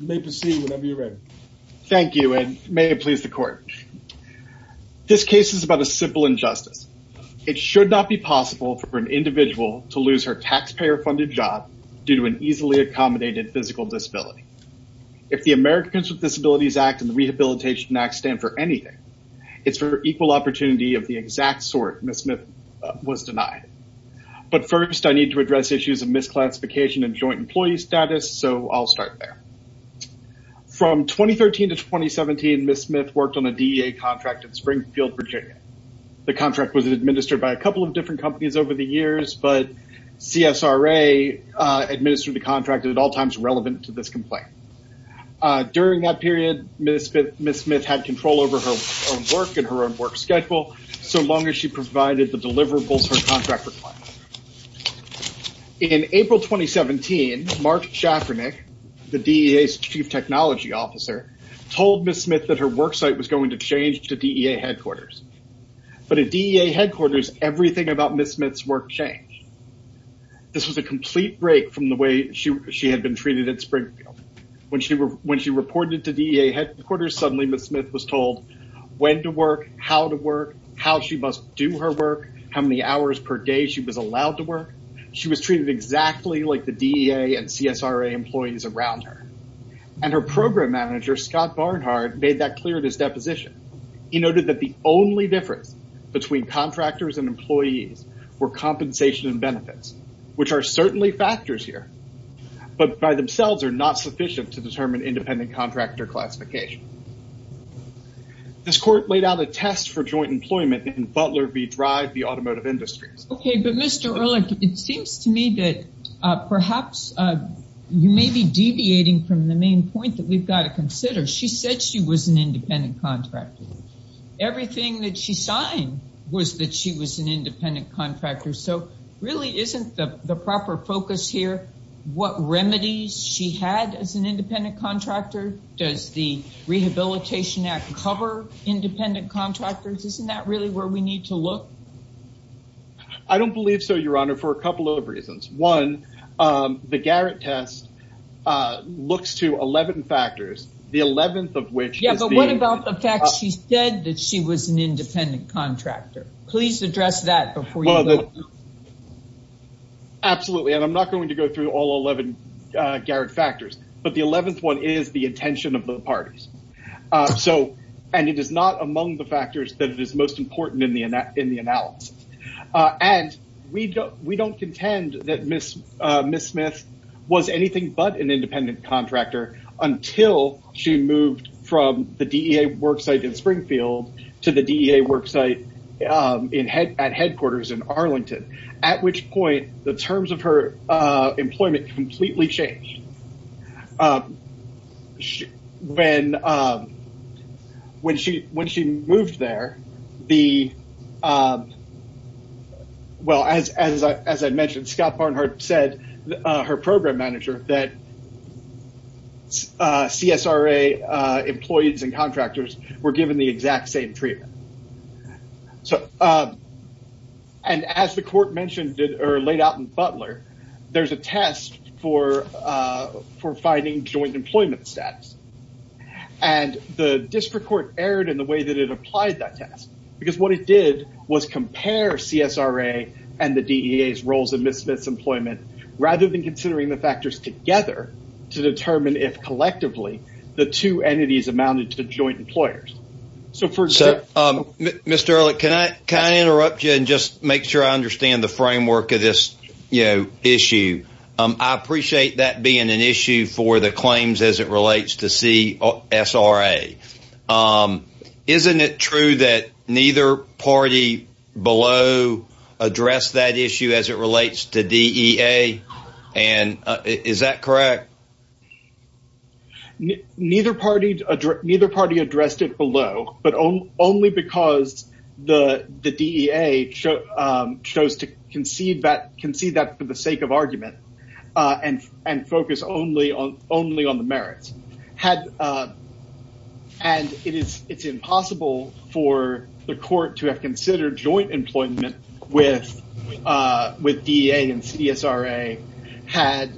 You may proceed whenever you're ready. Thank you and may it please the court. This case is about a simple injustice. It should not be possible for an individual to lose her taxpayer-funded job due to an easily accommodated physical disability. If the Americans with Disabilities Act and the Rehabilitation Act stand for anything, it's for equal opportunity of the exact sort Ms. Smith was denied. But first I need to address issues of misclassification and joint employee status. So I'll start there. From 2013 to 2017, Ms. Smith worked on a DEA contract in Springfield, Virginia. The contract was administered by a couple of different companies over the years, but CSRA administered the contract at all times relevant to this complaint. During that period, Ms. Smith had control over her own work and her own work schedule so long as she provided the deliverables her contract required. In April 2017, Mark Shafranek, the DEA's Chief Technology Officer, told Ms. Smith that her work site was going to change to DEA headquarters. But at DEA headquarters, everything about Ms. Smith's work changed. This was a complete break from the way she had been treated at Springfield. When she reported to DEA headquarters, suddenly Ms. Smith was told when to work, how to work, how she must do her work, how many hours per day she was allowed to work. She was treated exactly like the DEA and CSRA employees around her. And her program manager, Scott Barnhart, made that clear in his deposition. He noted that the only difference between contractors and employees were compensation and benefits, which are certainly factors here, but by themselves are not sufficient to determine independent contractor classification. This court laid out a test for joint employment in Butler v. Drive, the automotive industry. Okay, but Mr. Ehrlich, it seems to me that perhaps you may be deviating from the main point that we've got to consider. She said she was an independent contractor. Everything that she signed was that she was an independent contractor. So really isn't the proper focus here what remedies she had as an independent contractor? Does the Rehabilitation Act cover independent contractors? Isn't that really where we need to look? I don't believe so, Your Honor, for a couple of reasons. One, the Garrett test looks to 11 factors, the 11th of which is the- Yeah, but what about the fact she said that she was an independent contractor? Please address that before you go. Absolutely, and I'm not going to go through all 11 Garrett factors, but the 11th one is the intention of the parties. And it is not among the factors that it is most important in the analysis. And we don't contend that Ms. Smith was anything but an independent contractor until she moved from the DEA work site in Springfield to the DEA work site at headquarters in Arlington, at which point the terms of her employment completely changed. When she moved there, well, as I mentioned, Scott Barnhart said, her program manager, that CSRA employees and contractors were given the exact same treatment. And as the court mentioned or laid out in Butler, there's a test for finding joint employment status. And the district court erred in the way that it applied that test because what it did was compare CSRA and the DEA's roles in Ms. Smith's employment rather than considering the factors together to determine if collectively the two entities amounted to joint employers. So, Mr. Ehrlich, can I interrupt you and just make sure I understand the framework of this issue? I appreciate that being an issue for the claims as it relates to CSRA. Isn't it true that neither party below addressed that issue as it relates to DEA? And is that only because the DEA chose to concede that for the sake of argument and focus only on the merits? And it's impossible for the court to have considered joint employment with DEA and CSRA had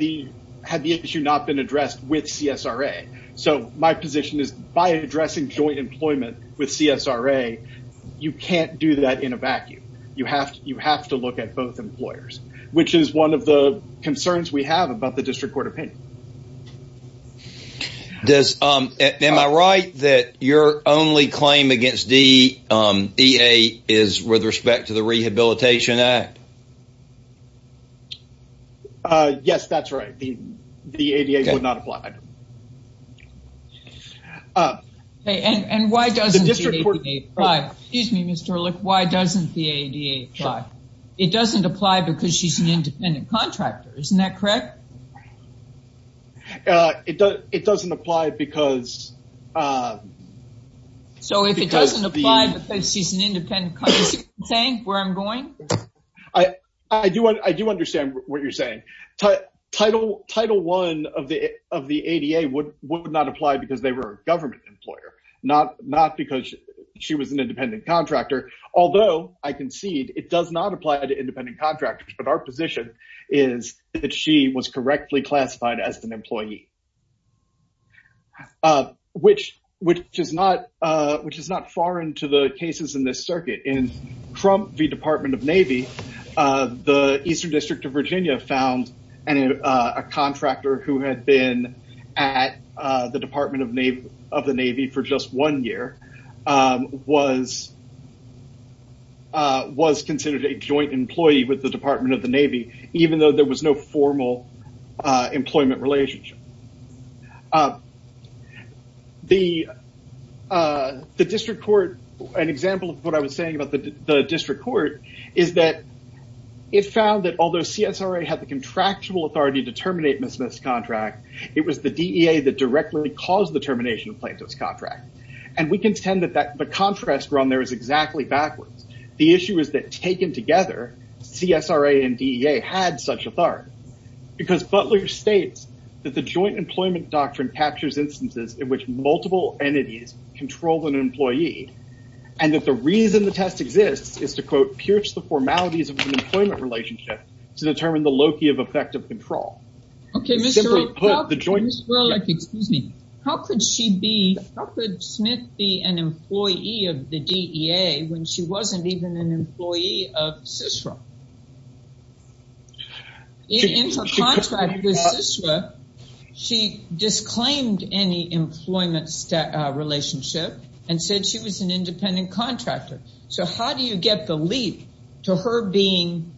the issue not been addressed with CSRA. So, my position is by addressing joint employment with CSRA, you can't do that in a vacuum. You have to look at both employers, which is one of the concerns we have about the district court opinion. Am I right that your only claim against DEA is with respect to the Rehabilitation Act? Yes, that's right. The ADA would not apply. And why doesn't the ADA apply? Excuse me, Mr. Ehrlich, why doesn't the ADA apply? It doesn't apply because she's an independent contractor, isn't that correct? It doesn't apply because... So, if it doesn't apply because she's an independent contractor, is that what you're going? I do understand what you're saying. Title I of the ADA would not apply because they were a government employer, not because she was an independent contractor. Although, I concede it does not apply to independent contractors, but our position is that she was correctly classified as an employee, which is not foreign to the cases in this circuit. In Trump v. Department of Navy, the Eastern District of Virginia found a contractor who had been at the Department of the Navy for just one year was considered a joint employee with the Department of the Navy, even though there was no formal employment relationship. An example of what I was saying about the district court is that it found that although CSRA had the contractual authority to terminate Ms. Smith's contract, it was the DEA that directly caused the termination of Plaintiff's contract. And we contend that the contrast around there is exactly backwards. The issue is that taken together, CSRA and DEA had such authority. Because Butler states that the joint employment doctrine captures instances in which multiple entities control an employee, and that the reason the test exists is to, quote, pierce the formalities of an employment relationship to determine the loci of effective control. How could Smith be an employee of the DEA when she wasn't even an employee of CSRA? In her contract with CSRA, she disclaimed any employment relationship and said she was an independent contractor. So how do you get the leap to her being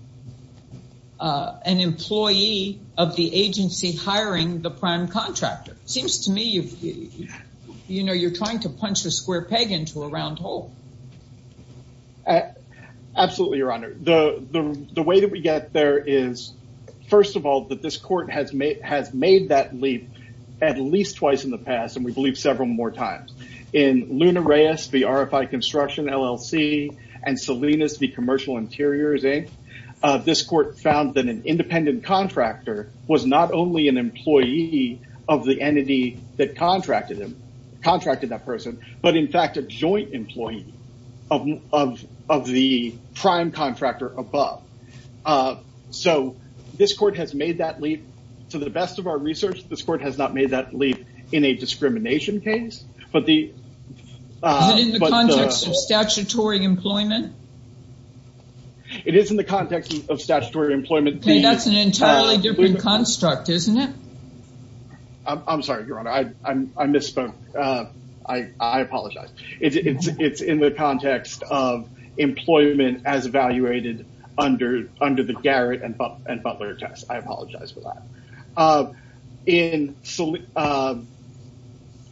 an employee of the agency hiring the prime contractor? Seems to me you're trying to punch a square peg into a round hole. Absolutely, Your Honor. The way that we get there is, first of all, that this court has made that leap at least twice in the past, and we believe several more times. In Luna Reyes v. RFI Construction, LLC, and Salinas v. Commercial Interiors, Inc., this court found that an independent contractor was not only an employee of the entity that contracted that person, but in fact, a joint employee of the prime contractor above. So this court has made that leap. To the best of our research, this court has not made that leap in a discrimination case, but the... Is it in the context of statutory employment? It is in the context of statutory employment. That's an entirely different construct, isn't it? I'm sorry, Your Honor. I misspoke. I apologize. It's in the context of employment as evaluated under the Garrett and Butler test. I apologize for that.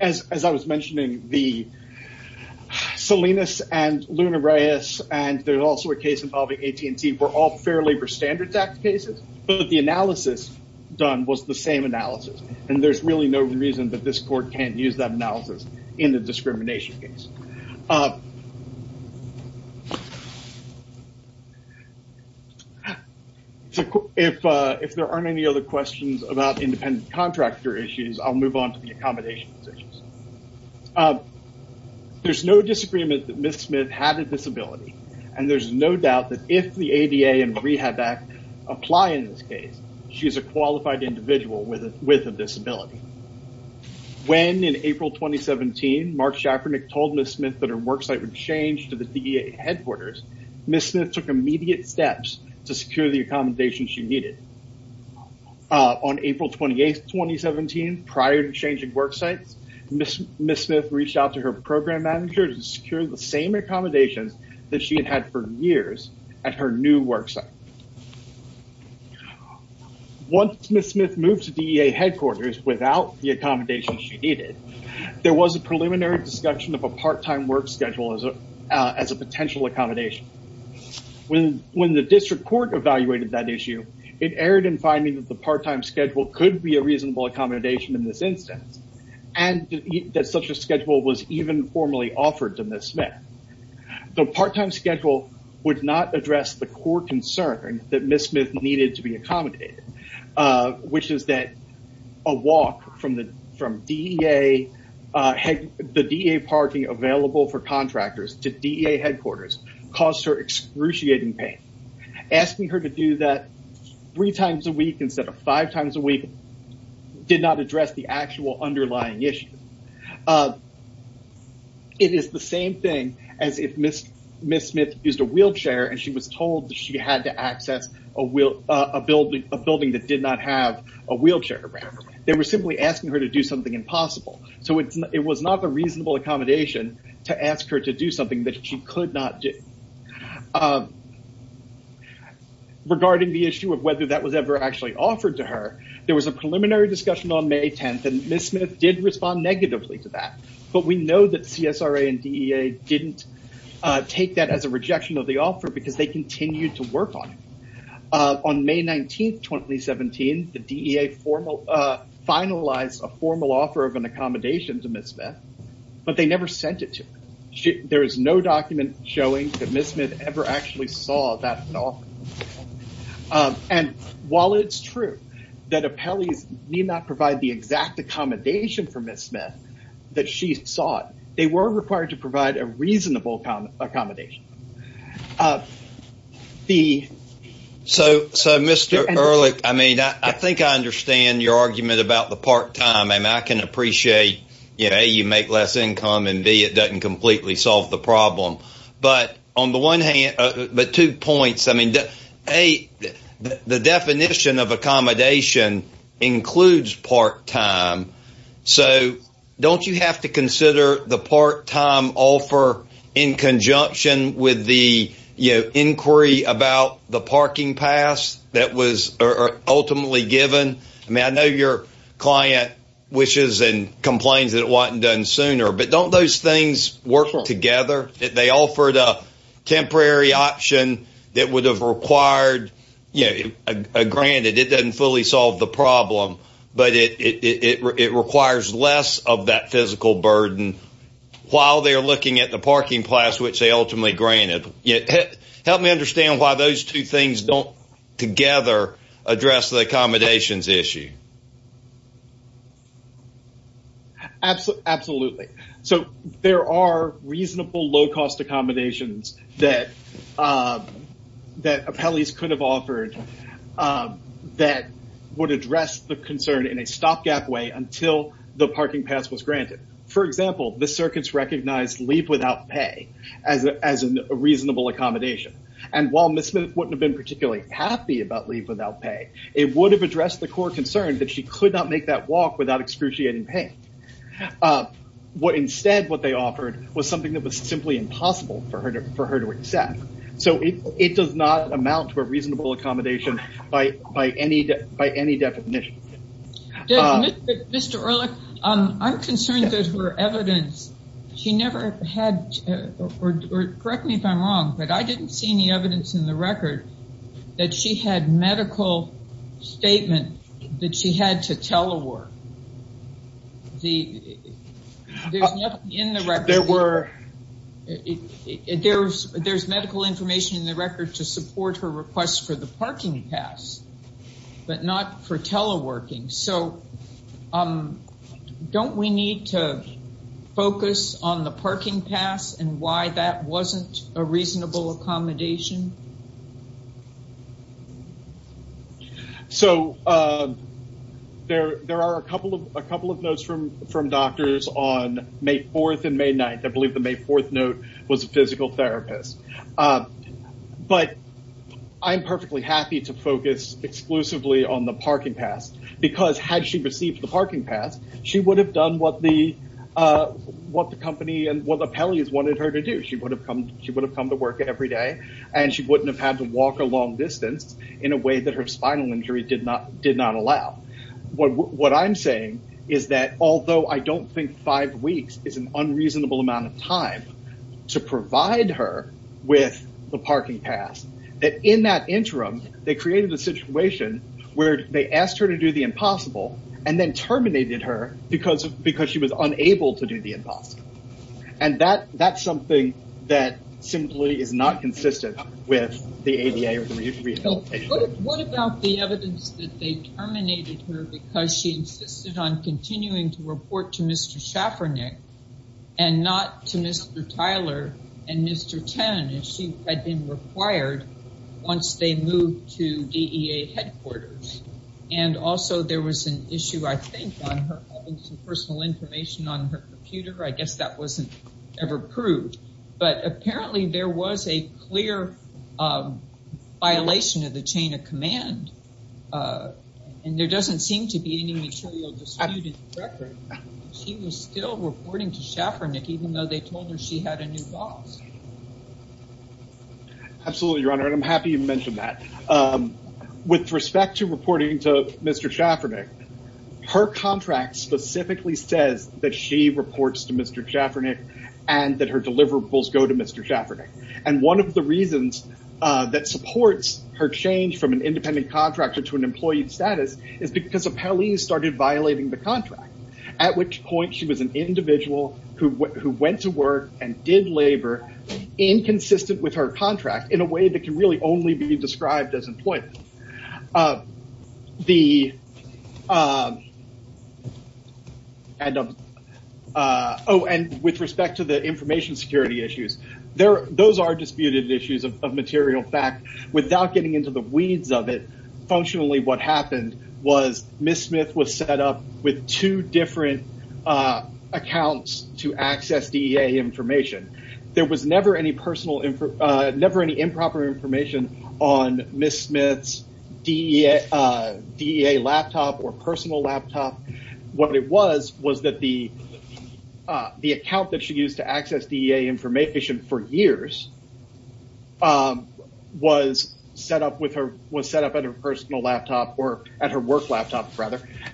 As I was mentioning, Salinas and Luna Reyes, and there's also a case involving AT&T, were all Labor Standards Act cases, but the analysis done was the same analysis. There's really no reason that this court can't use that analysis in the discrimination case. If there aren't any other questions about independent contractor issues, I'll move on to the accommodations issues. There's no disagreement that Ms. Smith had a disability, and there's no doubt that if the ADA and Rehab Act apply in this case, she's a qualified individual with a disability. When, in April 2017, Mark Schaffernick told Ms. Smith that her worksite would change to the DEA headquarters, Ms. Smith took immediate steps to secure the accommodation she needed. On April 28th, 2017, prior to changing worksites, Ms. Smith reached out to her program manager to secure the same accommodations that she had had for years at her new worksite. Once Ms. Smith moved to DEA headquarters without the accommodations she needed, there was a preliminary discussion of a part-time work schedule as a potential accommodation. When the district court evaluated that issue, it erred in finding that the part-time schedule could be a reasonable accommodation in this instance, and that such a schedule was even formally offered to Ms. Smith. The part-time schedule would not address the core concern that Ms. Smith needed to be accommodated, which is that a walk from the DEA parking available for contractors to DEA headquarters caused her excruciating pain. Asking her to do that three times a week instead of five times a week did not address the actual underlying issue. It is the same thing as if Ms. Smith used a wheelchair and she was told that she had to access a building that did not have a wheelchair around. They were simply asking her to do something impossible. It was not a reasonable accommodation to ask her to do something that she could not do. Regarding the issue of whether that was ever actually offered to her, there was a preliminary discussion on May 10th, and Ms. Smith did respond negatively to that. We know that CSRA and DEA did not take that as a rejection of the offer because they continued to work on it. On May 19th, 2017, the DEA finalized a formal offer of an accommodation to Ms. Smith, but they never sent it to her. There is no document showing that Ms. Smith ever actually saw that offer. While it is true that appellees need not provide the exact accommodation for Ms. Smith that she sought, they were required to provide a reasonable accommodation. Mr. Ehrlich, I think I understand your argument about the part-time offer. I can appreciate that you make less income and it does not completely solve the problem. The definition of accommodation includes part-time, so do you not have to consider the part-time offer in conjunction with the inquiry about the parking pass that was ultimately given? I know your client wishes and complains that it was not done sooner, but do not those things work together? They offered a temporary option that would have required, granted it fully solved the problem, but it requires less of that physical burden while they are looking at the parking pass, which they ultimately granted. Help me understand why those two things do not together address the accommodations issue. Absolutely. There are reasonable, low-cost accommodations that appellees could have offered that would address the concern in a stopgap way until the parking pass was granted. For example, the circuits recognized leave without pay as a reasonable accommodation. While Ms. Smith would not have been particularly happy about leave without pay, it would have addressed the core concern that she could not make that walk without excruciating pain. Instead, what they offered was something that was simply impossible for her to accept. It does not amount to a reasonable accommodation by any definition. Mr. Ehrlich, I am concerned that her evidence, correct me if I am wrong, but I did not see any statement that she had to telework. There is medical information in the record to support her request for the parking pass, but not for teleworking. Do not we need to focus on the parking pass and why that was not a reasonable accommodation? There are a couple of notes from doctors on May 4th and May 9th. I believe the May 4th note was a physical therapist. I am perfectly happy to focus exclusively on the parking pass, because had she received the parking pass, she would have done what the company and what the appellees wanted her to do. She would have come to work every day, and she would not have had to walk a long distance in a way that her spinal injury did not allow. What I am saying is that although I do not think five weeks is an unreasonable amount of time to provide her with the parking pass, that in that interim, they created a situation where they asked her to do the impossible and then terminated her because she was unable to do the consistent with the ADA or the rehabilitation. What about the evidence that they terminated her because she insisted on continuing to report to Mr. Schaffernick and not to Mr. Tyler and Mr. Chen if she had been required once they moved to DEA headquarters? Also, there was an issue, I think, on her having some personal information on her computer. I guess that was not ever proved, but apparently there was a clear violation of the chain of command, and there does not seem to be any material dispute in the record. She was still reporting to Schaffernick even though they told her she had a new boss. Absolutely, Your Honor, and I am happy you mentioned that. With respect to reporting to Mr. Schaffernick, her contract specifically says that she reports to Mr. Schaffernick and that her deliverables go to Mr. Schaffernick. One of the reasons that supports her change from an independent contractor to an employee status is because Appellees started violating the contract, at which point she was an individual who went to work and did labor inconsistent with her contract in a way that can really only be described as employment. With respect to the information security issues, those are disputed issues of material fact. Without getting into the weeds of it, functionally what happened was Ms. Smith was set up with two different accounts to access DEA information. There was never any improper information on Ms. Smith's DEA laptop or personal laptop. What it was was that the account that she used to access DEA information for years was set up at her work laptop.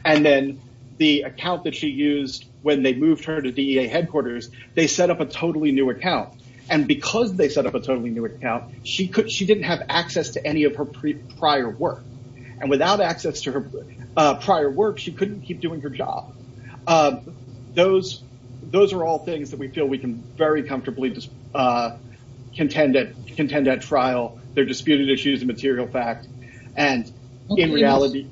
Then the account that she used when they moved her to DEA headquarters, they set up a totally new account. Because they set up a totally new account, she did not have access to any of her prior work. Without access to her prior work, she could not keep doing her job. Those are all things that we feel we can very comfortably contend at trial. They are disputed issues of material fact. In reality...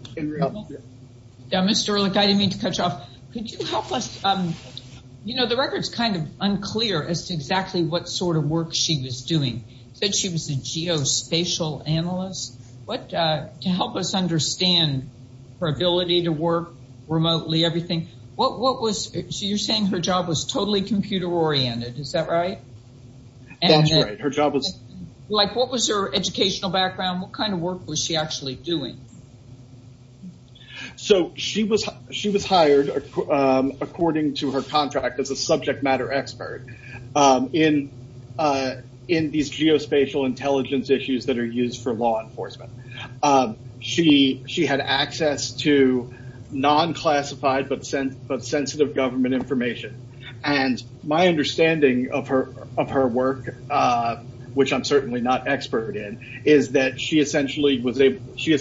Mr. Ehrlich, I didn't mean to cut you off. The record is unclear as to exactly what sort of work she was doing. You said she was a geospatial analyst. To help us understand her ability to work remotely, you are saying her job was totally computer oriented. Is that right? That's right. Her job was... What was her educational background? What kind was she actually doing? She was hired according to her contract as a subject matter expert in these geospatial intelligence issues that are used for law enforcement. She had access to non-classified but sensitive government information. My understanding of her work, which I'm certainly not an expert in, is that she essentially used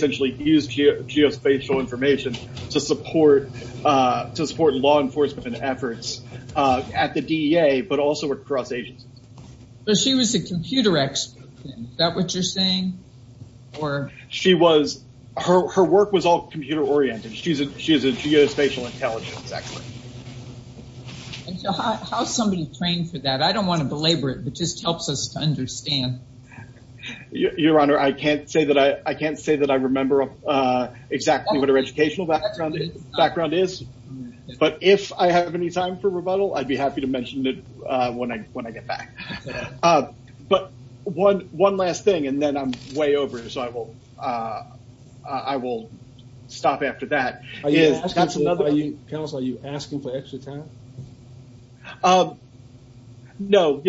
geospatial information to support law enforcement efforts at the DEA, but also across agencies. She was a computer expert. Is that what you're saying? Her work was all computer oriented. She is a geospatial intelligence expert. How is somebody trained for that? I don't want to belabor it, but it just helps us to understand. Your Honor, I can't say that I remember exactly what her educational background is, but if I have any time for rebuttal, I'd be happy to mention it when I get back. One last thing, and then I'm way over, so I will stop after that. Counselor, are you asking for extra time? No,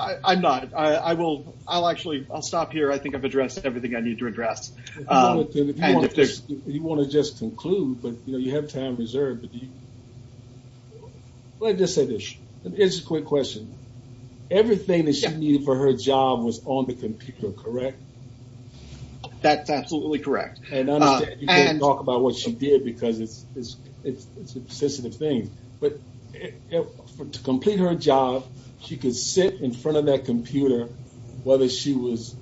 I'm not. I'll stop here. I think I've addressed everything I need to address. You want to just conclude, but you have time reserved. Here's a quick question. Everything that she needed for her job was on the computer, correct? That's absolutely correct. I understand you can't talk about what she did because it's a sensitive thing, but to complete her job, she could sit in front of that computer whether she was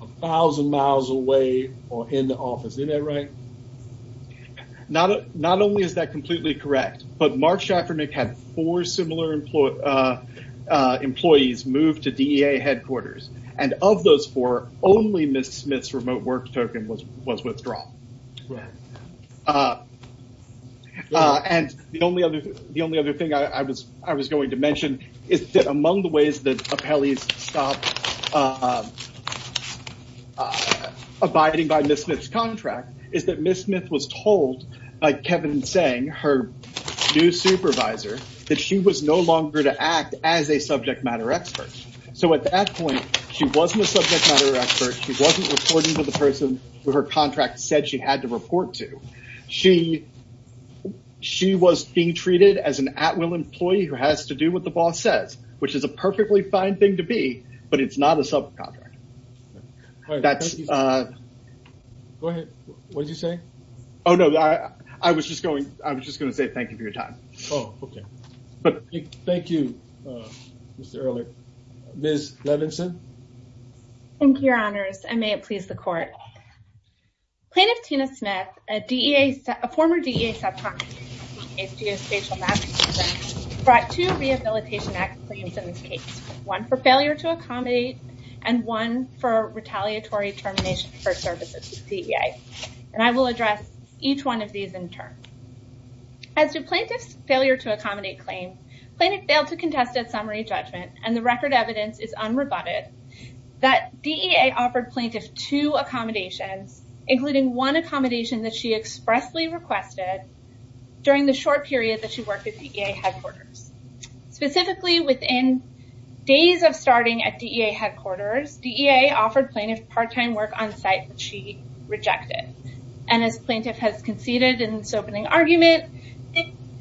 a thousand miles away or in the office. Isn't that right? Not only is that completely correct, but Mark Schafernick had four similar employees move to DEA headquarters. Of those four, Ms. Smith's remote work token was withdrawn. The only other thing I was going to mention is that among the ways that appellees stopped abiding by Ms. Smith's contract is that Ms. Smith was told by Kevin Tseng, her new supervisor, that she was no longer to act as a subject matter expert. At that point, she wasn't a subject matter expert. She wasn't reporting to the person who her contract said she had to report to. She was being treated as an at-will employee who has to do what the boss says, which is a perfectly fine thing to be, but it's not a subcontract. Go ahead. What did you say? I was just going to say thank you for your time. Oh, okay. Thank you, Mr. Earler. Ms. Levinson? Thank you, your honors, and may it please the court. Plaintiff Tina Smith, a former DEA subcontractor, brought two Rehabilitation Act claims in this case, one for failure to accommodate and one for retaliatory termination for services to DEA. I will address each one of these in turn. As to plaintiff's failure to accommodate claim, plaintiff failed to contest a summary judgment, and the record evidence is unrebutted that DEA offered plaintiff two accommodations, including one accommodation that she expressly requested during the short period that she worked at DEA headquarters. Specifically, within days of starting at DEA headquarters, DEA offered plaintiff part-time work on site that she rejected. As plaintiff has conceded in this opening argument,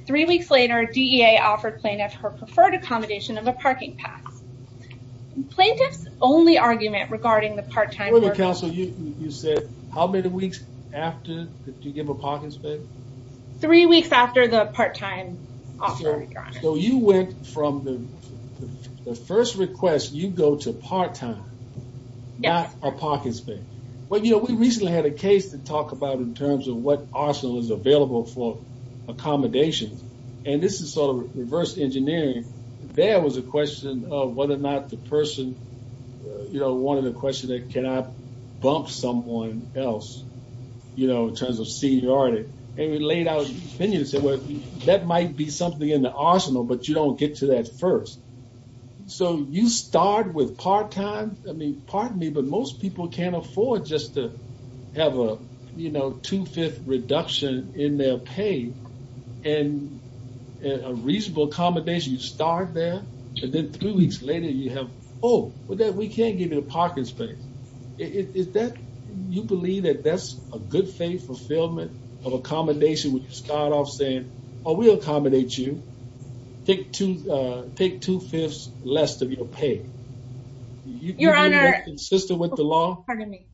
three weeks later, DEA offered plaintiff her preferred accommodation of a parking pass. Plaintiff's only argument regarding the part-time work- Wait a minute, counsel. You said how many weeks after? Did you give a parking space? You went from the first request, you go to part-time, not a parking space. We recently had a case to talk about in terms of what arsenal is available for accommodations, and this is sort of reverse engineering. There was a question of whether or not the person wanted a question that cannot bump someone else in terms of seniority, and we laid out that might be something in the arsenal, but you don't get to that first. So you start with part-time. I mean, pardon me, but most people can't afford just to have a two-fifth reduction in their pay and a reasonable accommodation. You start there, and then three weeks later, you have, oh, we can't give you a parking space. Is that, you believe that that's a good faith fulfillment of accommodation, where you start off saying, oh, we'll accommodate you. Take two-fifths less of your pay. Your Honor- You're more consistent with the law? Pardon me.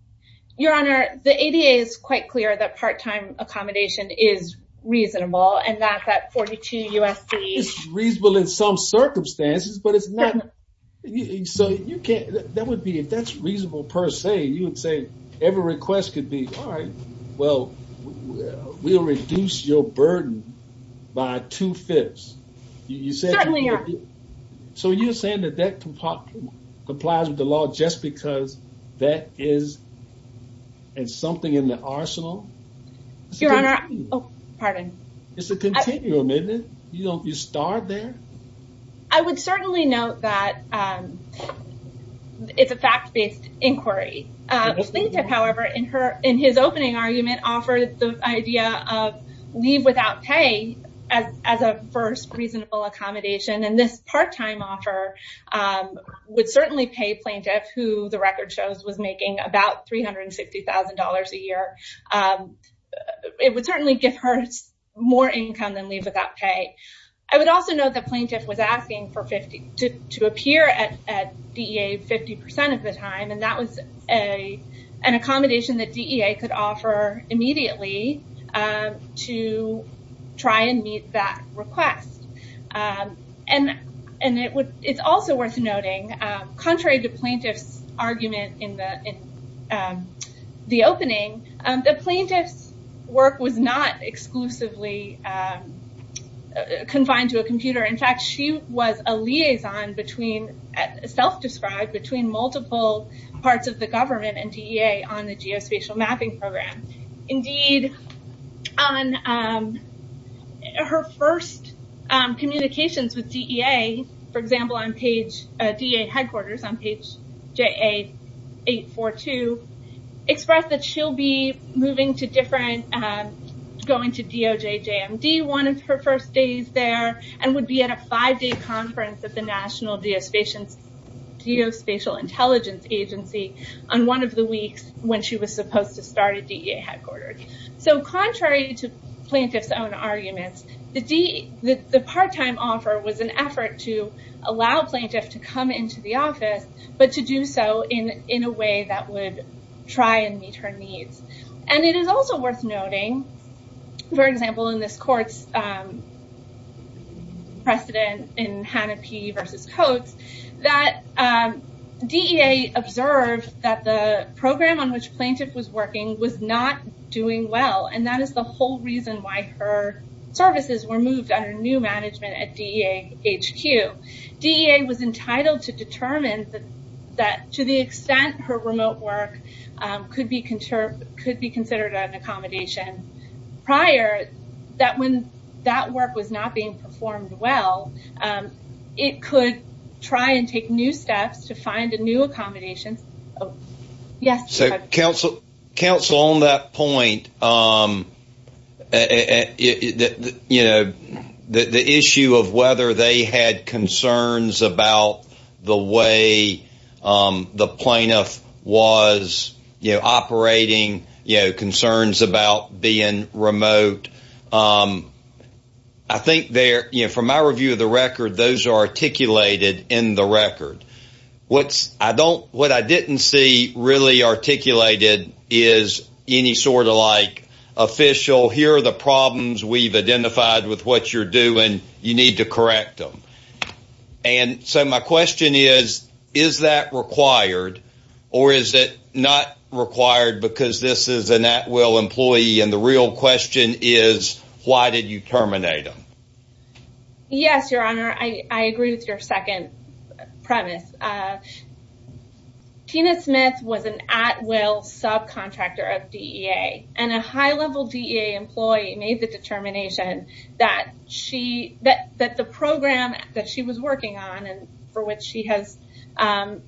Your Honor, the ADA is quite clear that part-time accommodation is reasonable, and not that 42 USD- It's reasonable in some circumstances, but it's not... That would be, if that's reasonable per se, you would say every request could be, all right, well, we'll reduce your burden by two-fifths. You said- Certainly, Your Honor. So you're saying that that complies with the law just because that is something in the arsenal? Your Honor, oh, pardon. It's a continuum, isn't it? You start there. I would certainly note that it's a fact-based inquiry. Plaintiff, however, in his opening argument, offered the idea of leave without pay as a first reasonable accommodation, and this part-time offer would certainly pay plaintiff, who the record shows was making about $360,000 a year. It would certainly give her more income than leave without pay. I would also note the plaintiff was asking to appear at DEA 50% of the time, and that was an accommodation that DEA could offer immediately to try and meet that request. It's also worth noting, contrary to plaintiff's argument in the opening, the plaintiff's work was not exclusively confined to a computer. In fact, she was a liaison between, self-described, between multiple parts of the government and DEA on the geospatial mapping program. Indeed, on her first communications with DEA, for example, on page, DEA headquarters on page JA842, expressed that she'll be moving to different, going to DOJ JMD one of her first days there, and would be at a five-day conference at the National Geospatial Intelligence Agency on one of the weeks when she was supposed to start at DEA headquarters. Contrary to plaintiff's own arguments, the part-time offer was an effort to allow plaintiff to come into the office, but to do so in a way that would try and meet her needs. It is also worth noting, for example, in this court's precedent in Hannah P versus Coates, that DEA observed that the program on which plaintiff was working was not doing well, and that is the whole reason why her services were moved under new management at DEA HQ. DEA was entitled to determine that to the extent her remote work could be considered an accommodation prior, that when that work was not being performed well, it could try and take new steps to find a new accommodation. So, counsel, on that point, the issue of whether they had concerns about the way the plaintiff was operating, concerns about being remote, I think from my review of the record, those are articulated in the record. What I didn't see really articulated is any sort of like official, here are the problems we've identified with what you're doing, you need to correct them. And so my question is, is that required, or is it not required because this is an at-will employee and the real question is, why did you terminate them? Yes, Your Honor, I agree with your second premise. Tina Smith was an at-will subcontractor of DEA, and a high-level DEA employee made the determination that the program that she was working on, to which she has put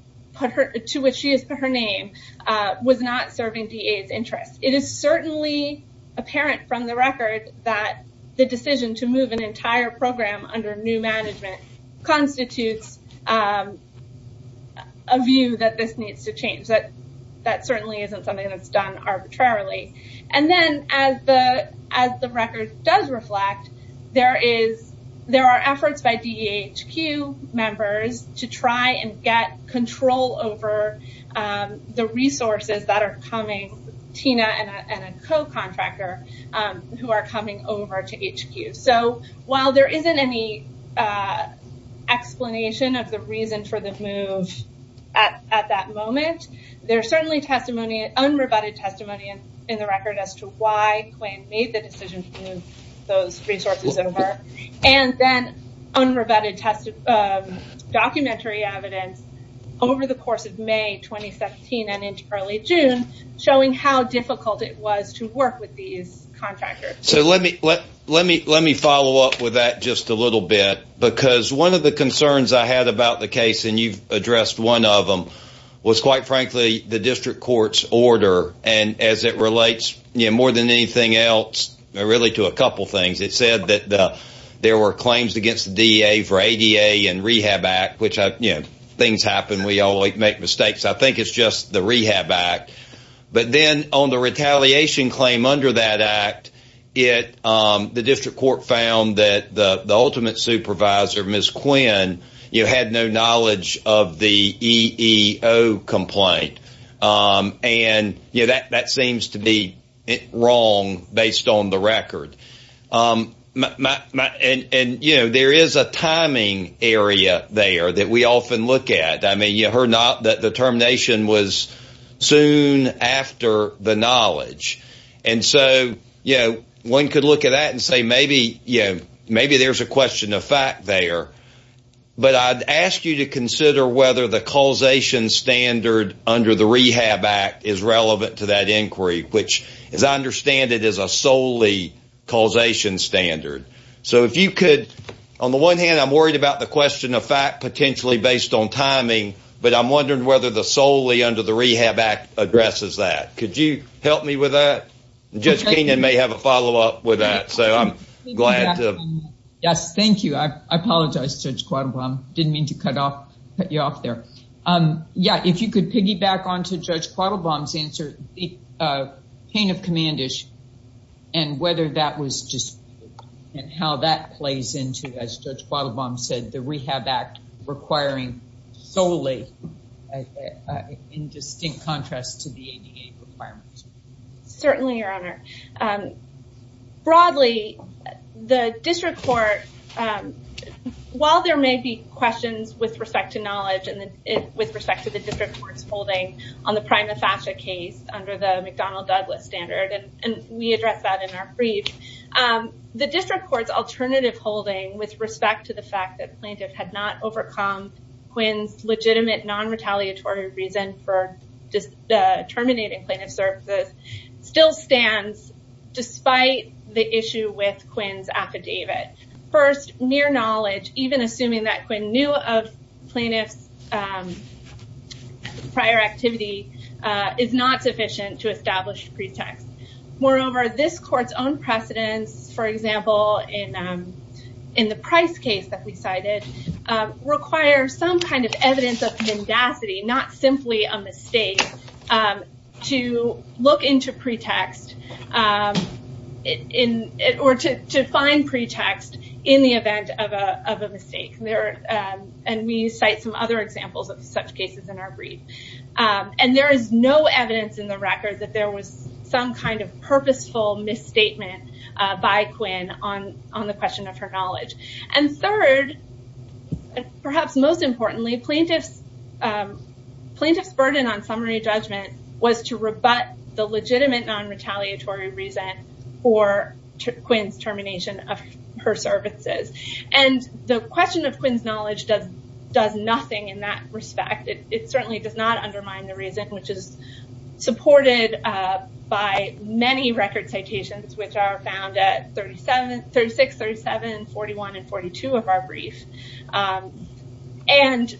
her name, was not serving DEA's interest. It is certainly apparent from the record that the decision to move an entire program under new management constitutes a view that this needs to change. That certainly isn't something that's done arbitrarily. And then as the record does reflect, there are efforts by DEHQ members to try and get control over the resources that are coming, Tina and a co-contractor who are coming over to DEHQ. So while there isn't any explanation of the reason for the move at that moment, there's certainly unrebutted testimony in the record as to why Quinn made the decision to move those resources over. And then unrebutted documentary evidence over the course of May 2017 and into early June showing how difficult it was to work with these contractors. So let me follow up with that just a little bit because one of the concerns I had about the case, and you've addressed one of them, was quite frankly the district court's order and as it relates more than anything else, really to a couple things, it said that there were claims against the DEA for ADA and Rehab Act, which things happen. We all make mistakes. I think it's just the Rehab Act. But then on the retaliation claim under that act, the district court found that the ultimate supervisor, Ms. Quinn, had no knowledge of the EEO complaint. And that seems to be based on the record. And there is a timing area there that we often look at. I mean, you heard that the termination was soon after the knowledge. And so one could look at that and say maybe there's a question of fact there. But I'd ask you to consider whether the causation standard under the Rehab Act is relevant to that inquiry, which as I understand it is a solely causation standard. So if you could, on the one hand, I'm worried about the question of fact potentially based on timing, but I'm wondering whether the solely under the Rehab Act addresses that. Could you help me with that? And Judge Keenan may have a follow up with that. So I'm If you could piggyback on to Judge Quattlebaum's answer, the pain of commendage and whether that was just and how that plays into, as Judge Quattlebaum said, the Rehab Act requiring solely in distinct contrast to the ADA requirements. Certainly, Your Honor. Broadly, the district court, while there may be questions with respect to knowledge and with respect to the district court's holding on the prima facie case under the McDonnell Douglas standard, and we address that in our brief, the district court's alternative holding with respect to the fact that plaintiff had not overcome Quinn's legitimate non-retaliatory reason for terminating plaintiff's services still stands despite the issue with Quinn's affidavit. First, near knowledge, even assuming that Quinn knew of plaintiff's prior activity is not sufficient to establish pretext. Moreover, this court's own precedents, for example, in the Price case that we cited, require some kind of pretext or to find pretext in the event of a mistake. We cite some other examples of such cases in our brief. There is no evidence in the record that there was some kind of purposeful misstatement by Quinn on the question of her knowledge. Third, perhaps most importantly, plaintiff's burden on summary judgment was to rebut the legitimate non-retaliatory reason for Quinn's termination of her services. The question of Quinn's knowledge does nothing in that respect. It certainly does not undermine the reason, which is supported by many record citations, which are found at 36, 37, 41, and 42 of our brief, and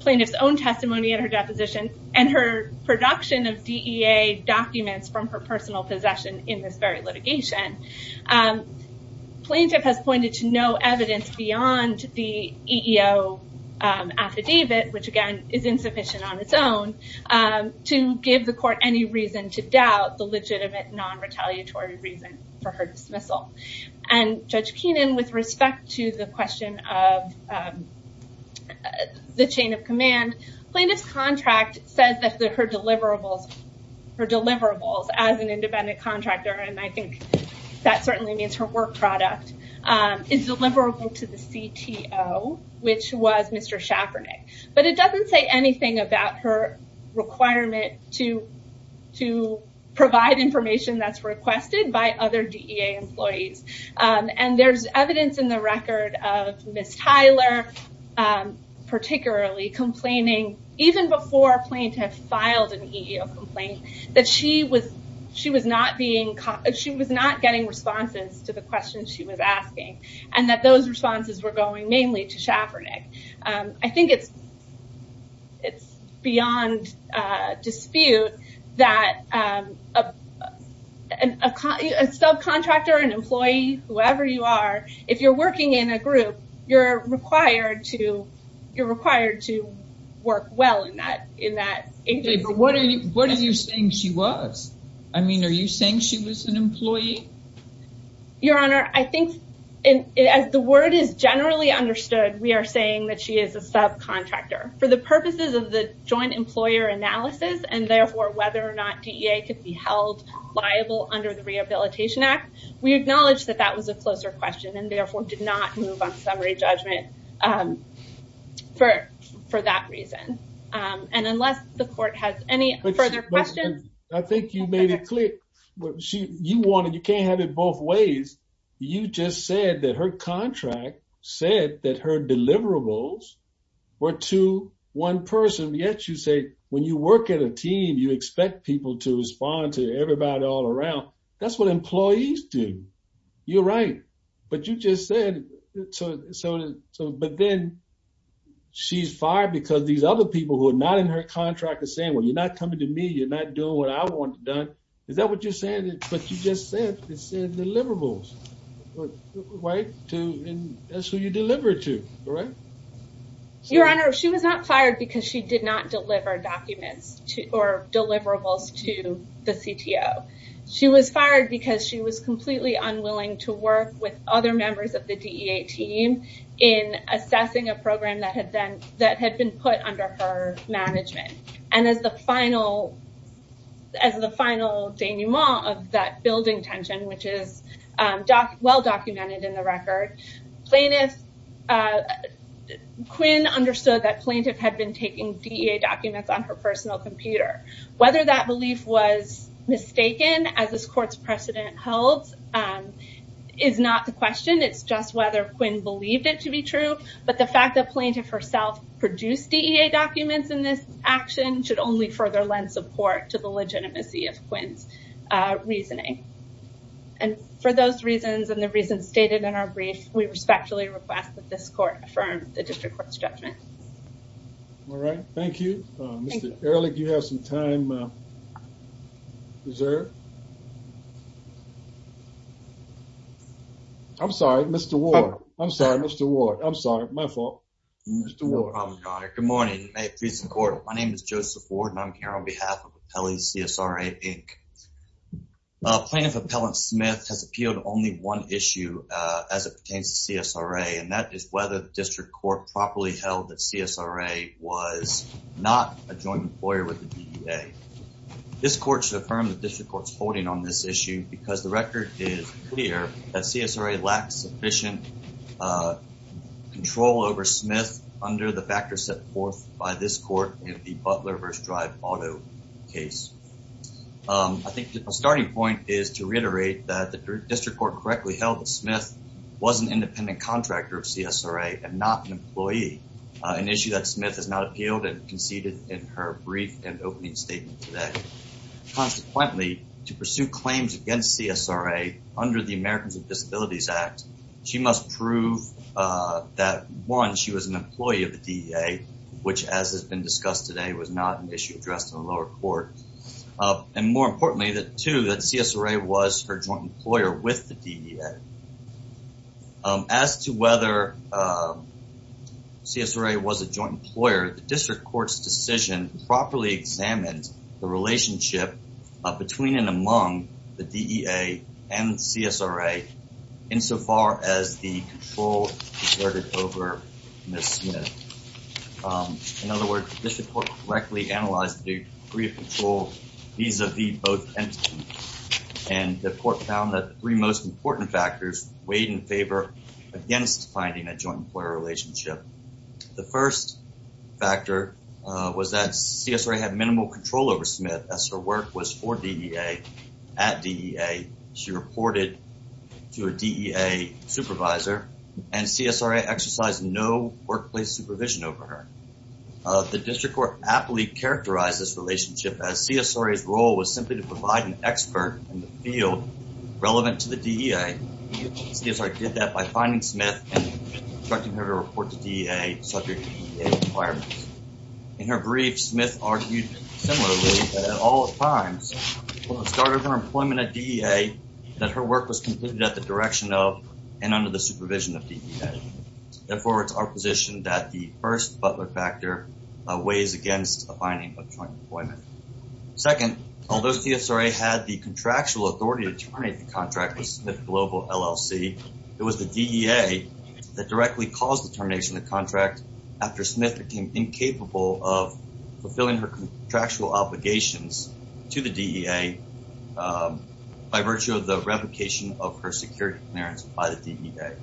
plaintiff's own testimony in her deposition and her production of DEA documents from her personal possession in this very litigation. Plaintiff has pointed to no evidence beyond the EEO affidavit, which again is insufficient on its own to give the court any reason to doubt the legitimate non-retaliatory reason for her dismissal. Judge Keenan, with respect to the question of the chain of command, plaintiff's contract says that her deliverables as an independent contractor, and I think that certainly means her work product, is deliverable to the CTO, which was Mr. Schaffernick. It doesn't say anything about her requirement to provide information that's requested by other DEA employees. There's evidence in the record of Ms. Tyler particularly complaining, even before plaintiff filed an EEO complaint, that she was not getting responses to the questions she was asking. It's beyond dispute that a subcontractor, an employee, whoever you are, if you're working in a group, you're required to work well in that agency. What are you saying she was? Are you saying she was an employee? Your Honor, I think as the word is generally understood, we are saying that she is a subcontractor. For the purposes of the joint employer analysis and therefore whether or not DEA could be held liable under the Rehabilitation Act, we acknowledge that that was a closer question and therefore did not move on summary judgment for that reason. Unless the court has any further questions- I think you made it clear. You can't have it both ways. You just said that contract said that her deliverables were to one person, yet you say when you work at a team, you expect people to respond to everybody all around. That's what employees do. You're right, but you just said- but then she's fired because these other people who are not in her contract are saying, well, you're not coming to me. You're not doing what I want done. Is that what you're saying? Deliverables, right? That's who you deliver it to, right? Your Honor, she was not fired because she did not deliver documents or deliverables to the CTO. She was fired because she was completely unwilling to work with other members of the DEA team in assessing a program that had been put under her management. As the final denouement of that building tension, which is well documented in the record, Quinn understood that Plaintiff had been taking DEA documents on her personal computer. Whether that belief was mistaken, as this court's precedent holds, is not the question. It's just whether Quinn believed it to be true, but the fact that Plaintiff herself produced DEA documents in this action should only further lend support to the legitimacy of Quinn's reasoning. And for those reasons and the reasons stated in our brief, we respectfully request that this court affirm the district court's judgment. All right. Thank you. Mr. Ehrlich, you have some time reserved. I'm sorry, Mr. Ward. I'm sorry, Mr. Ward. I'm sorry. My fault. Mr. Ward. Good morning. My name is Joseph Ward and I'm here on behalf of Appellees CSRA, Inc. Plaintiff Appellant Smith has appealed only one issue as it pertains to CSRA, and that is whether the district court properly held that CSRA was not a joint employer with the DEA. This court should affirm the district court's holding on this issue because the record is clear that CSRA lacks sufficient control over Smith under the factors set forth by this court in the Butler vs. Drive auto case. I think the starting point is to reiterate that the district court correctly held that Smith was an independent contractor of CSRA and not an employee, an issue that Smith has not appealed and conceded in her brief and opening statement today. Consequently, to pursue claims against CSRA under the Americans with Disabilities Act, she must prove that one, she was an employee of the DEA, which as has been discussed today, was not an issue addressed in the lower court. And more importantly, that two, that CSRA was her joint employer with the DEA. As to whether CSRA was a joint employer, the district court's decision properly examined the relationship between and among the DEA and CSRA, insofar as the control over Ms. Smith. In other words, the district court correctly analyzed the degree of control vis-a-vis both entities, and the court found that the three most important factors weighed in favor against finding a joint employer relationship. The first factor was that CSRA had minimal control over Smith as her work was for DEA at DEA. She reported to a DEA supervisor and CSRA exercised no workplace supervision over her. The district court aptly characterized this relationship as CSRA's role was simply to provide an expert in the field relevant to the DEA. CSRA did that by finding Smith and instructing her to report to DEA subject to DEA requirements. In her brief, Smith argued similarly that at all times, from the start of her employment at DEA, that her work was completed at the direction of and under the supervision of DEA. Therefore, it's our position that the first Butler factor weighs against the finding of joint employment. Second, although CSRA had the contractual authority to terminate the contract with DEA, that directly caused the termination of the contract after Smith became incapable of fulfilling her contractual obligations to the DEA by virtue of the replication of her security clearance by the DEA.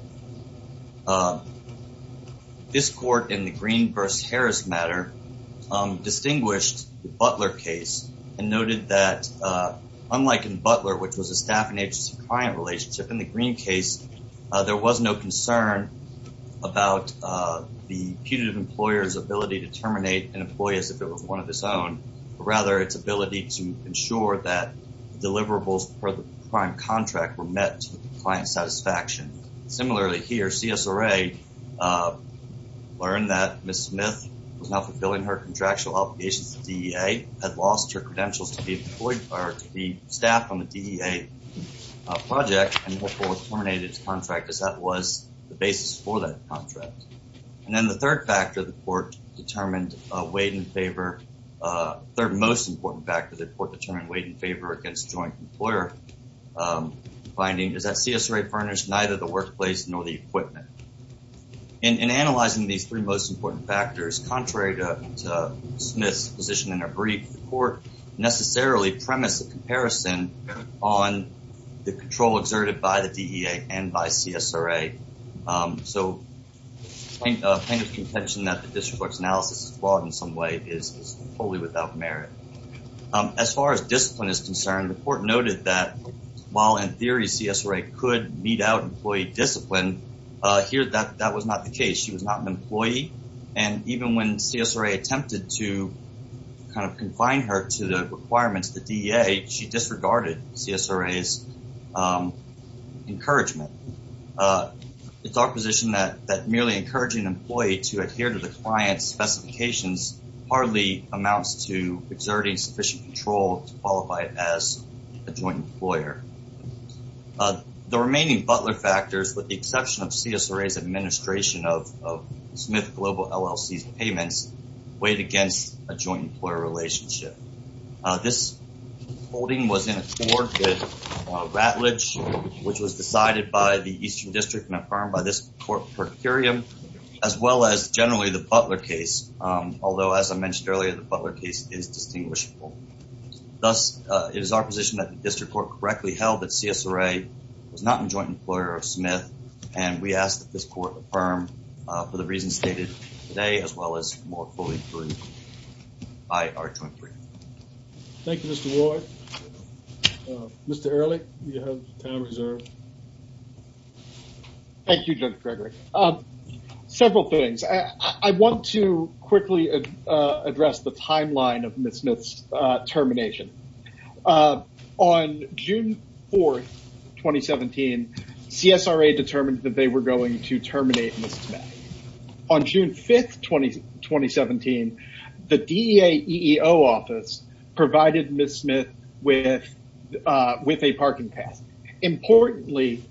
This court in the Green versus Harris matter distinguished the Butler case and noted that unlike in Butler, which was a staff and agency client relationship, in the Green case, there was no concern about the putative employer's ability to terminate an employee as if it was one of its own, but rather its ability to ensure that deliverables for the prime contract were met to the client's satisfaction. Similarly here, CSRA learned that Ms. Smith was not fulfilling her contractual obligations to DEA, had lost her credentials to be staffed on the DEA project and therefore terminated its contract as that was the basis for that contract. And then the third factor the court determined weighed in favor, third most important factor the court determined weighed in favor against joint employer finding is that CSRA furnished neither the workplace nor the equipment. In analyzing these three most important factors, contrary to Smith's position in her brief, the court necessarily premised a comparison on the control exerted by the DEA and by CSRA. So I think a kind of contention that the district court's analysis is flawed in some way is totally without merit. As far as discipline is concerned, the court noted that while in theory CSRA could mete out employee discipline, here that was not the case. She was not an employee and even when CSRA attempted to kind of confine her to the requirements of the DEA, she disregarded CSRA's encouragement. It's our position that merely encouraging an employee to adhere to the client's specifications hardly amounts to exerting sufficient control to qualify as a joint employer. The remaining Butler factors with the exception of CSRA's administration of Smith Global LLC's payments weighed against a joint employer relationship. This holding was in accord with Rattlage, which was decided by the Eastern District and affirmed by this court per curiam, as well as generally the Butler case. Although, as I mentioned earlier, the Butler case is distinguishable. Thus, it is our position that the district court correctly held that CSRA was not a joint employer of Smith and we ask that this court affirm for the reasons stated today, as well as more fully prove IR 23. Thank you, Mr. Roy. Mr. Early, you have time reserved. Thank you, Judge Gregory. Several things. I want to quickly address the timeline of 2017. CSRA determined that they were going to terminate Ms. Smith. On June 5, 2017, the DEA EEO office provided Ms. Smith with a parking pass. Importantly,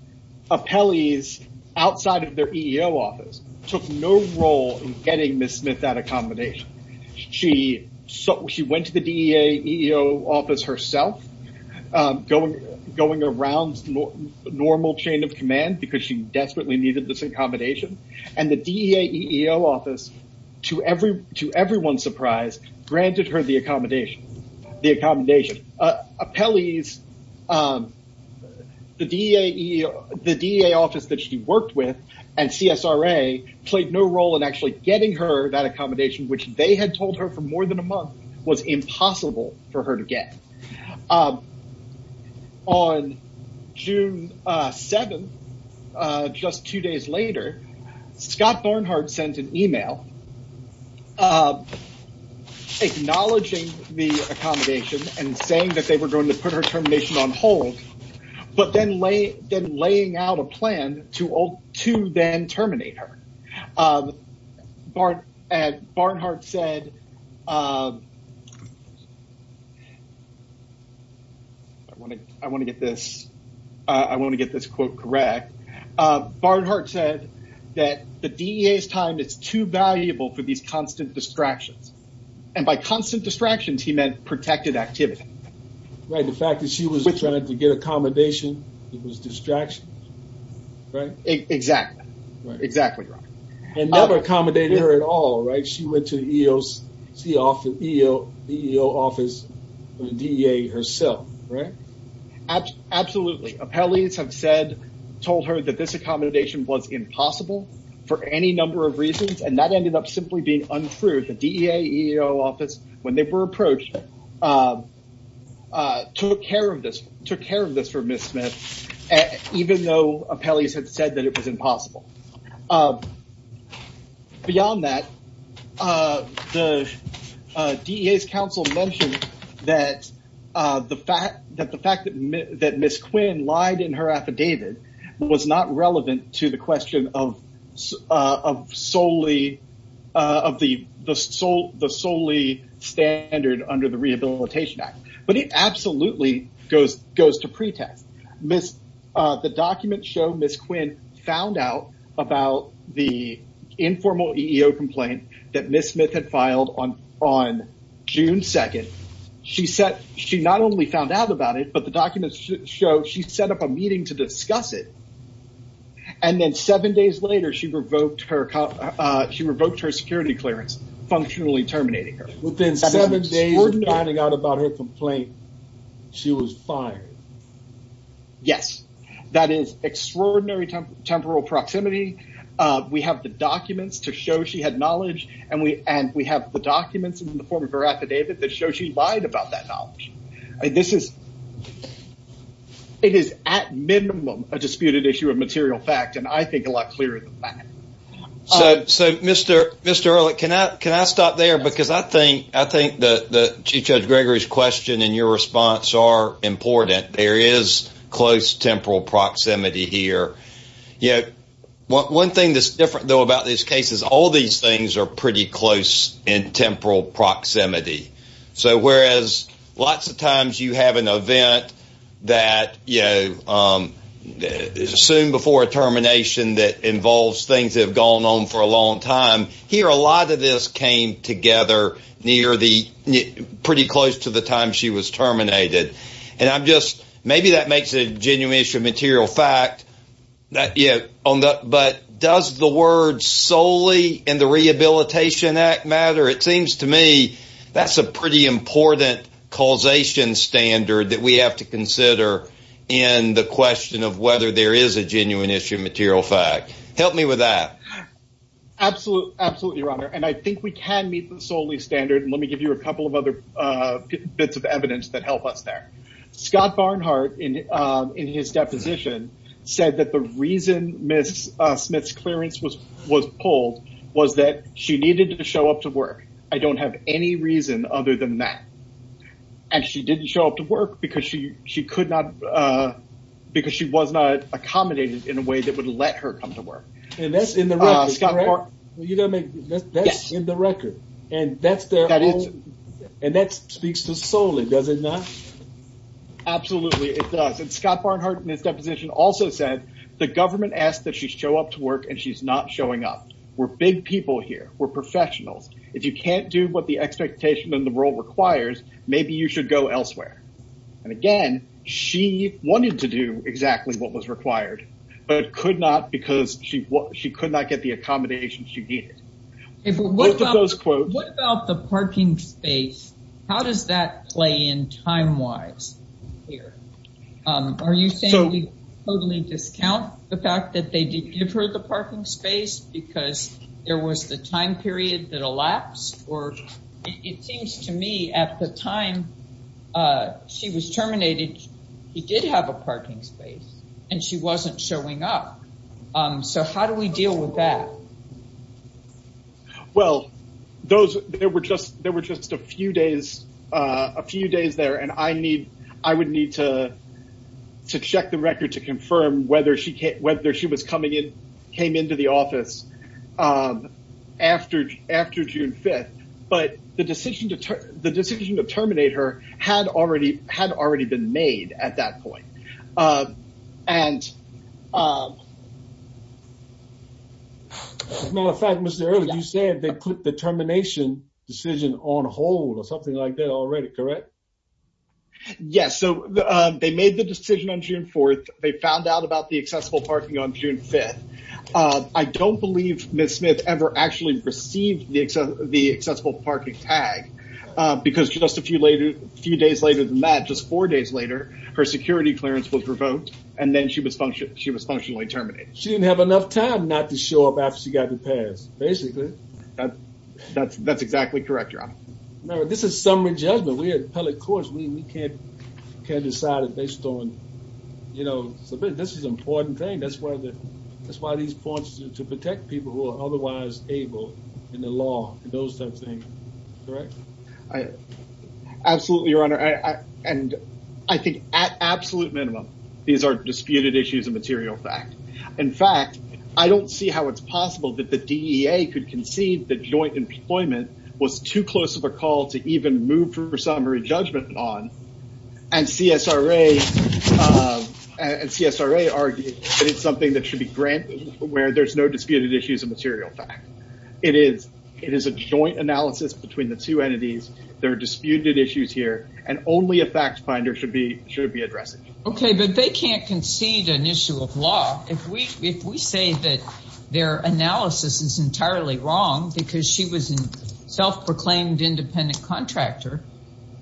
appellees outside of their EEO office took no role in getting Ms. Smith that accommodation. She went to the DEA EEO office herself, going around normal chain of command because she desperately needed this accommodation. The DEA EEO office, to everyone's surprise, granted her the accommodation. The DEA office that she worked with and CSRA played no role in actually getting her that accommodation, which they had told her for more than a month was impossible for her to get. On June 7, just two days later, Scott Barnhart sent an email acknowledging the accommodation and saying that they were going to put her termination on hold, but then laying out a plan to then terminate her. Barnhart said, if I want to get this quote correct, Barnhart said that the DEA's time is too valuable for these constant distractions. By constant distractions, he meant protected activity. Right. The fact that she was trying to get accommodation, it was distractions, right? Exactly. Exactly right. It never accommodated her at all, right? She went to the EEO office, the DEA herself, right? Absolutely. Appellees have told her that this accommodation was impossible for any number of reasons, and that ended up simply being untrue. The DEA EEO office, when they were approached, took care of this for Ms. Smith, even though appellees had said it was impossible. Beyond that, the DEA's counsel mentioned that the fact that Ms. Quinn lied in her affidavit was not relevant to the question of the solely standard under the Rehabilitation Act, but it absolutely goes to pretext. The documents show Ms. Quinn found out about the informal EEO complaint that Ms. Smith had filed on June 2nd. She not only found out about it, but the documents show she set up a meeting to discuss it. Then seven days later, she revoked her security clearance, functionally terminating her. Within seven days of finding out about her complaint, she was fired. Yes, that is extraordinary temporal proximity. We have the documents to show she had knowledge, and we have the documents in the form of her affidavit that show she lied about that knowledge. It is, at minimum, a disputed issue of material fact, and I think a lot clearer than that. So, Mr. Ehrlich, can I stop there? Because I think that Chief Judge Gregory's question and your response are important. There is close temporal proximity here. One thing that's different, though, about these cases, all these things are pretty close in temporal proximity. So, whereas lots of times you have an event that is assumed before a termination that involves things that have gone on for a long time, here a lot of this came together pretty close to the time she was terminated. Maybe that makes a genuine issue of material fact, but does the word solely in the Rehabilitation Act matter? It seems to me that's a pretty important causation standard that we have to consider in the question of whether there is a genuine issue of material fact. Help me with that. Absolutely, Your Honor, and I think we can meet the Solis standard. Let me give you a couple of other bits of evidence that help us there. Scott Barnhart, in his deposition, said that the reason Ms. Smith's clearance was pulled was that she needed to show up to work. I don't have any reason other than that. And she didn't show up to work because she could not, because she was not accommodated in a way that would let her come to work. And that's in the record, correct? Yes. And that speaks to Solis, does it not? Absolutely, it does. And Scott Barnhart, in his deposition, also said the government asked that she show up to work and she's not showing up. We're big people here. We're professionals. If you can't do what the expectation and the role requires, maybe you should go elsewhere. And again, she wanted to do exactly what was required, but could not because she could not get the accommodation she needed. What about the parking space? How does that play in time-wise? Are you saying we totally discount the fact that they did give her the parking space because there was the time period that elapsed? It seems to me at the time she was terminated, he did have a parking space and she wasn't showing up. So how do we deal with that? Well, there were just a few days there and I would need to check the record to confirm whether she came into the office after June 5th. But the decision to terminate her had already been made at that point. As a matter of fact, Mr. Earley, you said they put the termination decision on hold or something like that already, correct? Yes. So they made the accessible parking on June 5th. I don't believe Ms. Smith ever actually received the accessible parking tag because just a few days later than that, just four days later, her security clearance was revoked and then she was functionally terminated. She didn't have enough time not to show up after she got the pass, basically. That's exactly correct, Your Honor. Remember, this is summary judgment. We're appellate courts. We can't decide it based on... This is an important thing. That's why these courts are to protect people who are otherwise able in the law and those types of things, correct? Absolutely, Your Honor. And I think at absolute minimum, these are disputed issues of material fact. In fact, I don't see how it's a call to even move for summary judgment on. And CSRA argued that it's something that should be granted where there's no disputed issues of material fact. It is a joint analysis between the two entities. There are disputed issues here and only a fact finder should be addressing. Okay, but they can't concede an issue of law. If we say that their analysis is entirely wrong because she was a self-proclaimed independent contractor,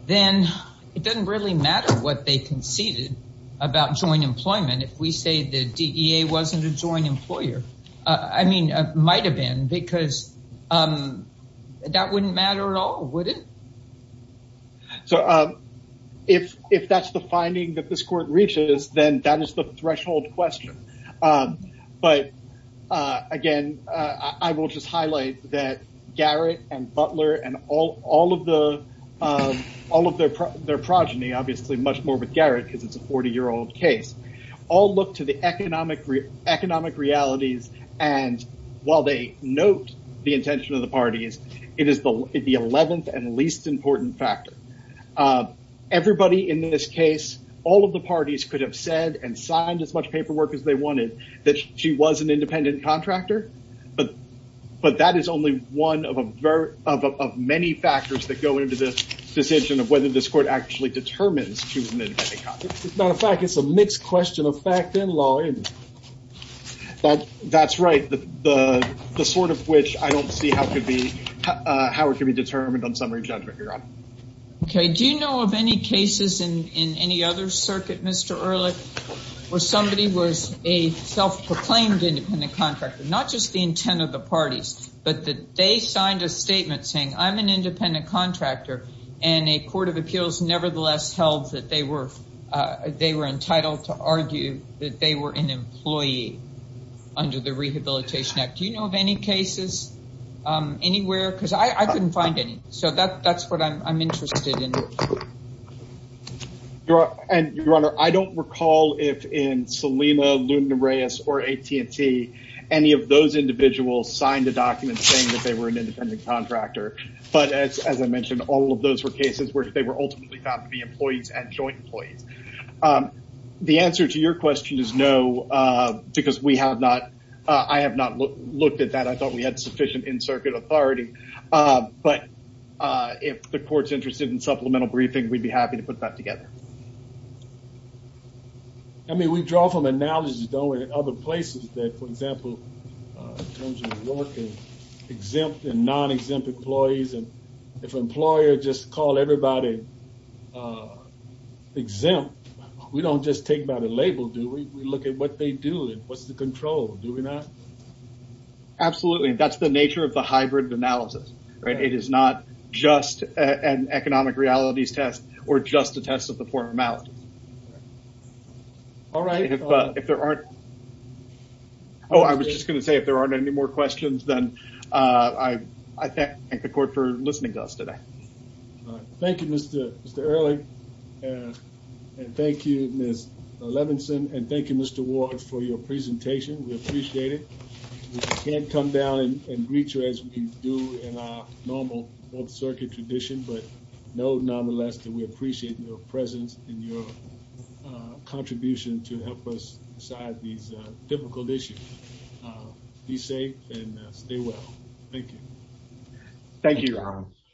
then it doesn't really matter what they conceded about joint employment if we say the DEA wasn't a joint employer. I mean, might have been because that wouldn't matter at all, would it? So, if that's the finding that this court reaches, then that is the threshold question. But, again, I will just highlight that Garrett and Butler and all of their progeny, obviously much more with Garrett because it's a 40-year-old case, all look to the economic realities and while they note the intention of the parties, it is the 11th and least important factor. Everybody in this case, all of the parties could have said and signed as much paperwork as they wanted that she was an independent contractor, but that is only one of many factors that go into the decision of whether this court actually determines she was an independent contractor. As a matter of fact, it's a mixed question of fact and law, isn't it? That's right. The sort of which I don't see how it could be determined on summary judgment, Okay. Do you know of any cases in any other circuit, Mr. Ehrlich, where somebody was a self-proclaimed independent contractor, not just the intent of the parties, but that they signed a statement saying I'm an independent contractor and a court of appeals nevertheless held that they were entitled to argue that they were an employee under the circuit? Your Honor, I don't recall if in Selena, Luna Reyes, or AT&T, any of those individuals signed a document saying that they were an independent contractor, but as I mentioned, all of those were cases where they were ultimately found to be employees and joint employees. The answer to your question is no, because I have not looked at that. I thought we had sufficient in-circuit authority, but if the court's interested in supplemental briefing, we'd be happy to put that together. I mean, we draw from analogies, don't we, in other places that, for example, in terms of working exempt and non-exempt employees, and if an employer just called everybody exempt, we don't just take by the label, do we? We look at what they do and what's the control, do we not? Absolutely. That's the nature of the hybrid analysis. It is not just an economic realities test or just a test of the formalities. I was just going to say if there aren't any more questions, then I thank the court for your presentation. We appreciate it. We can't come down and greet you as we do in our normal both-circuit tradition, but nonetheless, we appreciate your presence and your contribution to help us decide these difficult issues. Be safe and stay well. Thank you. Thank you, Your Honor.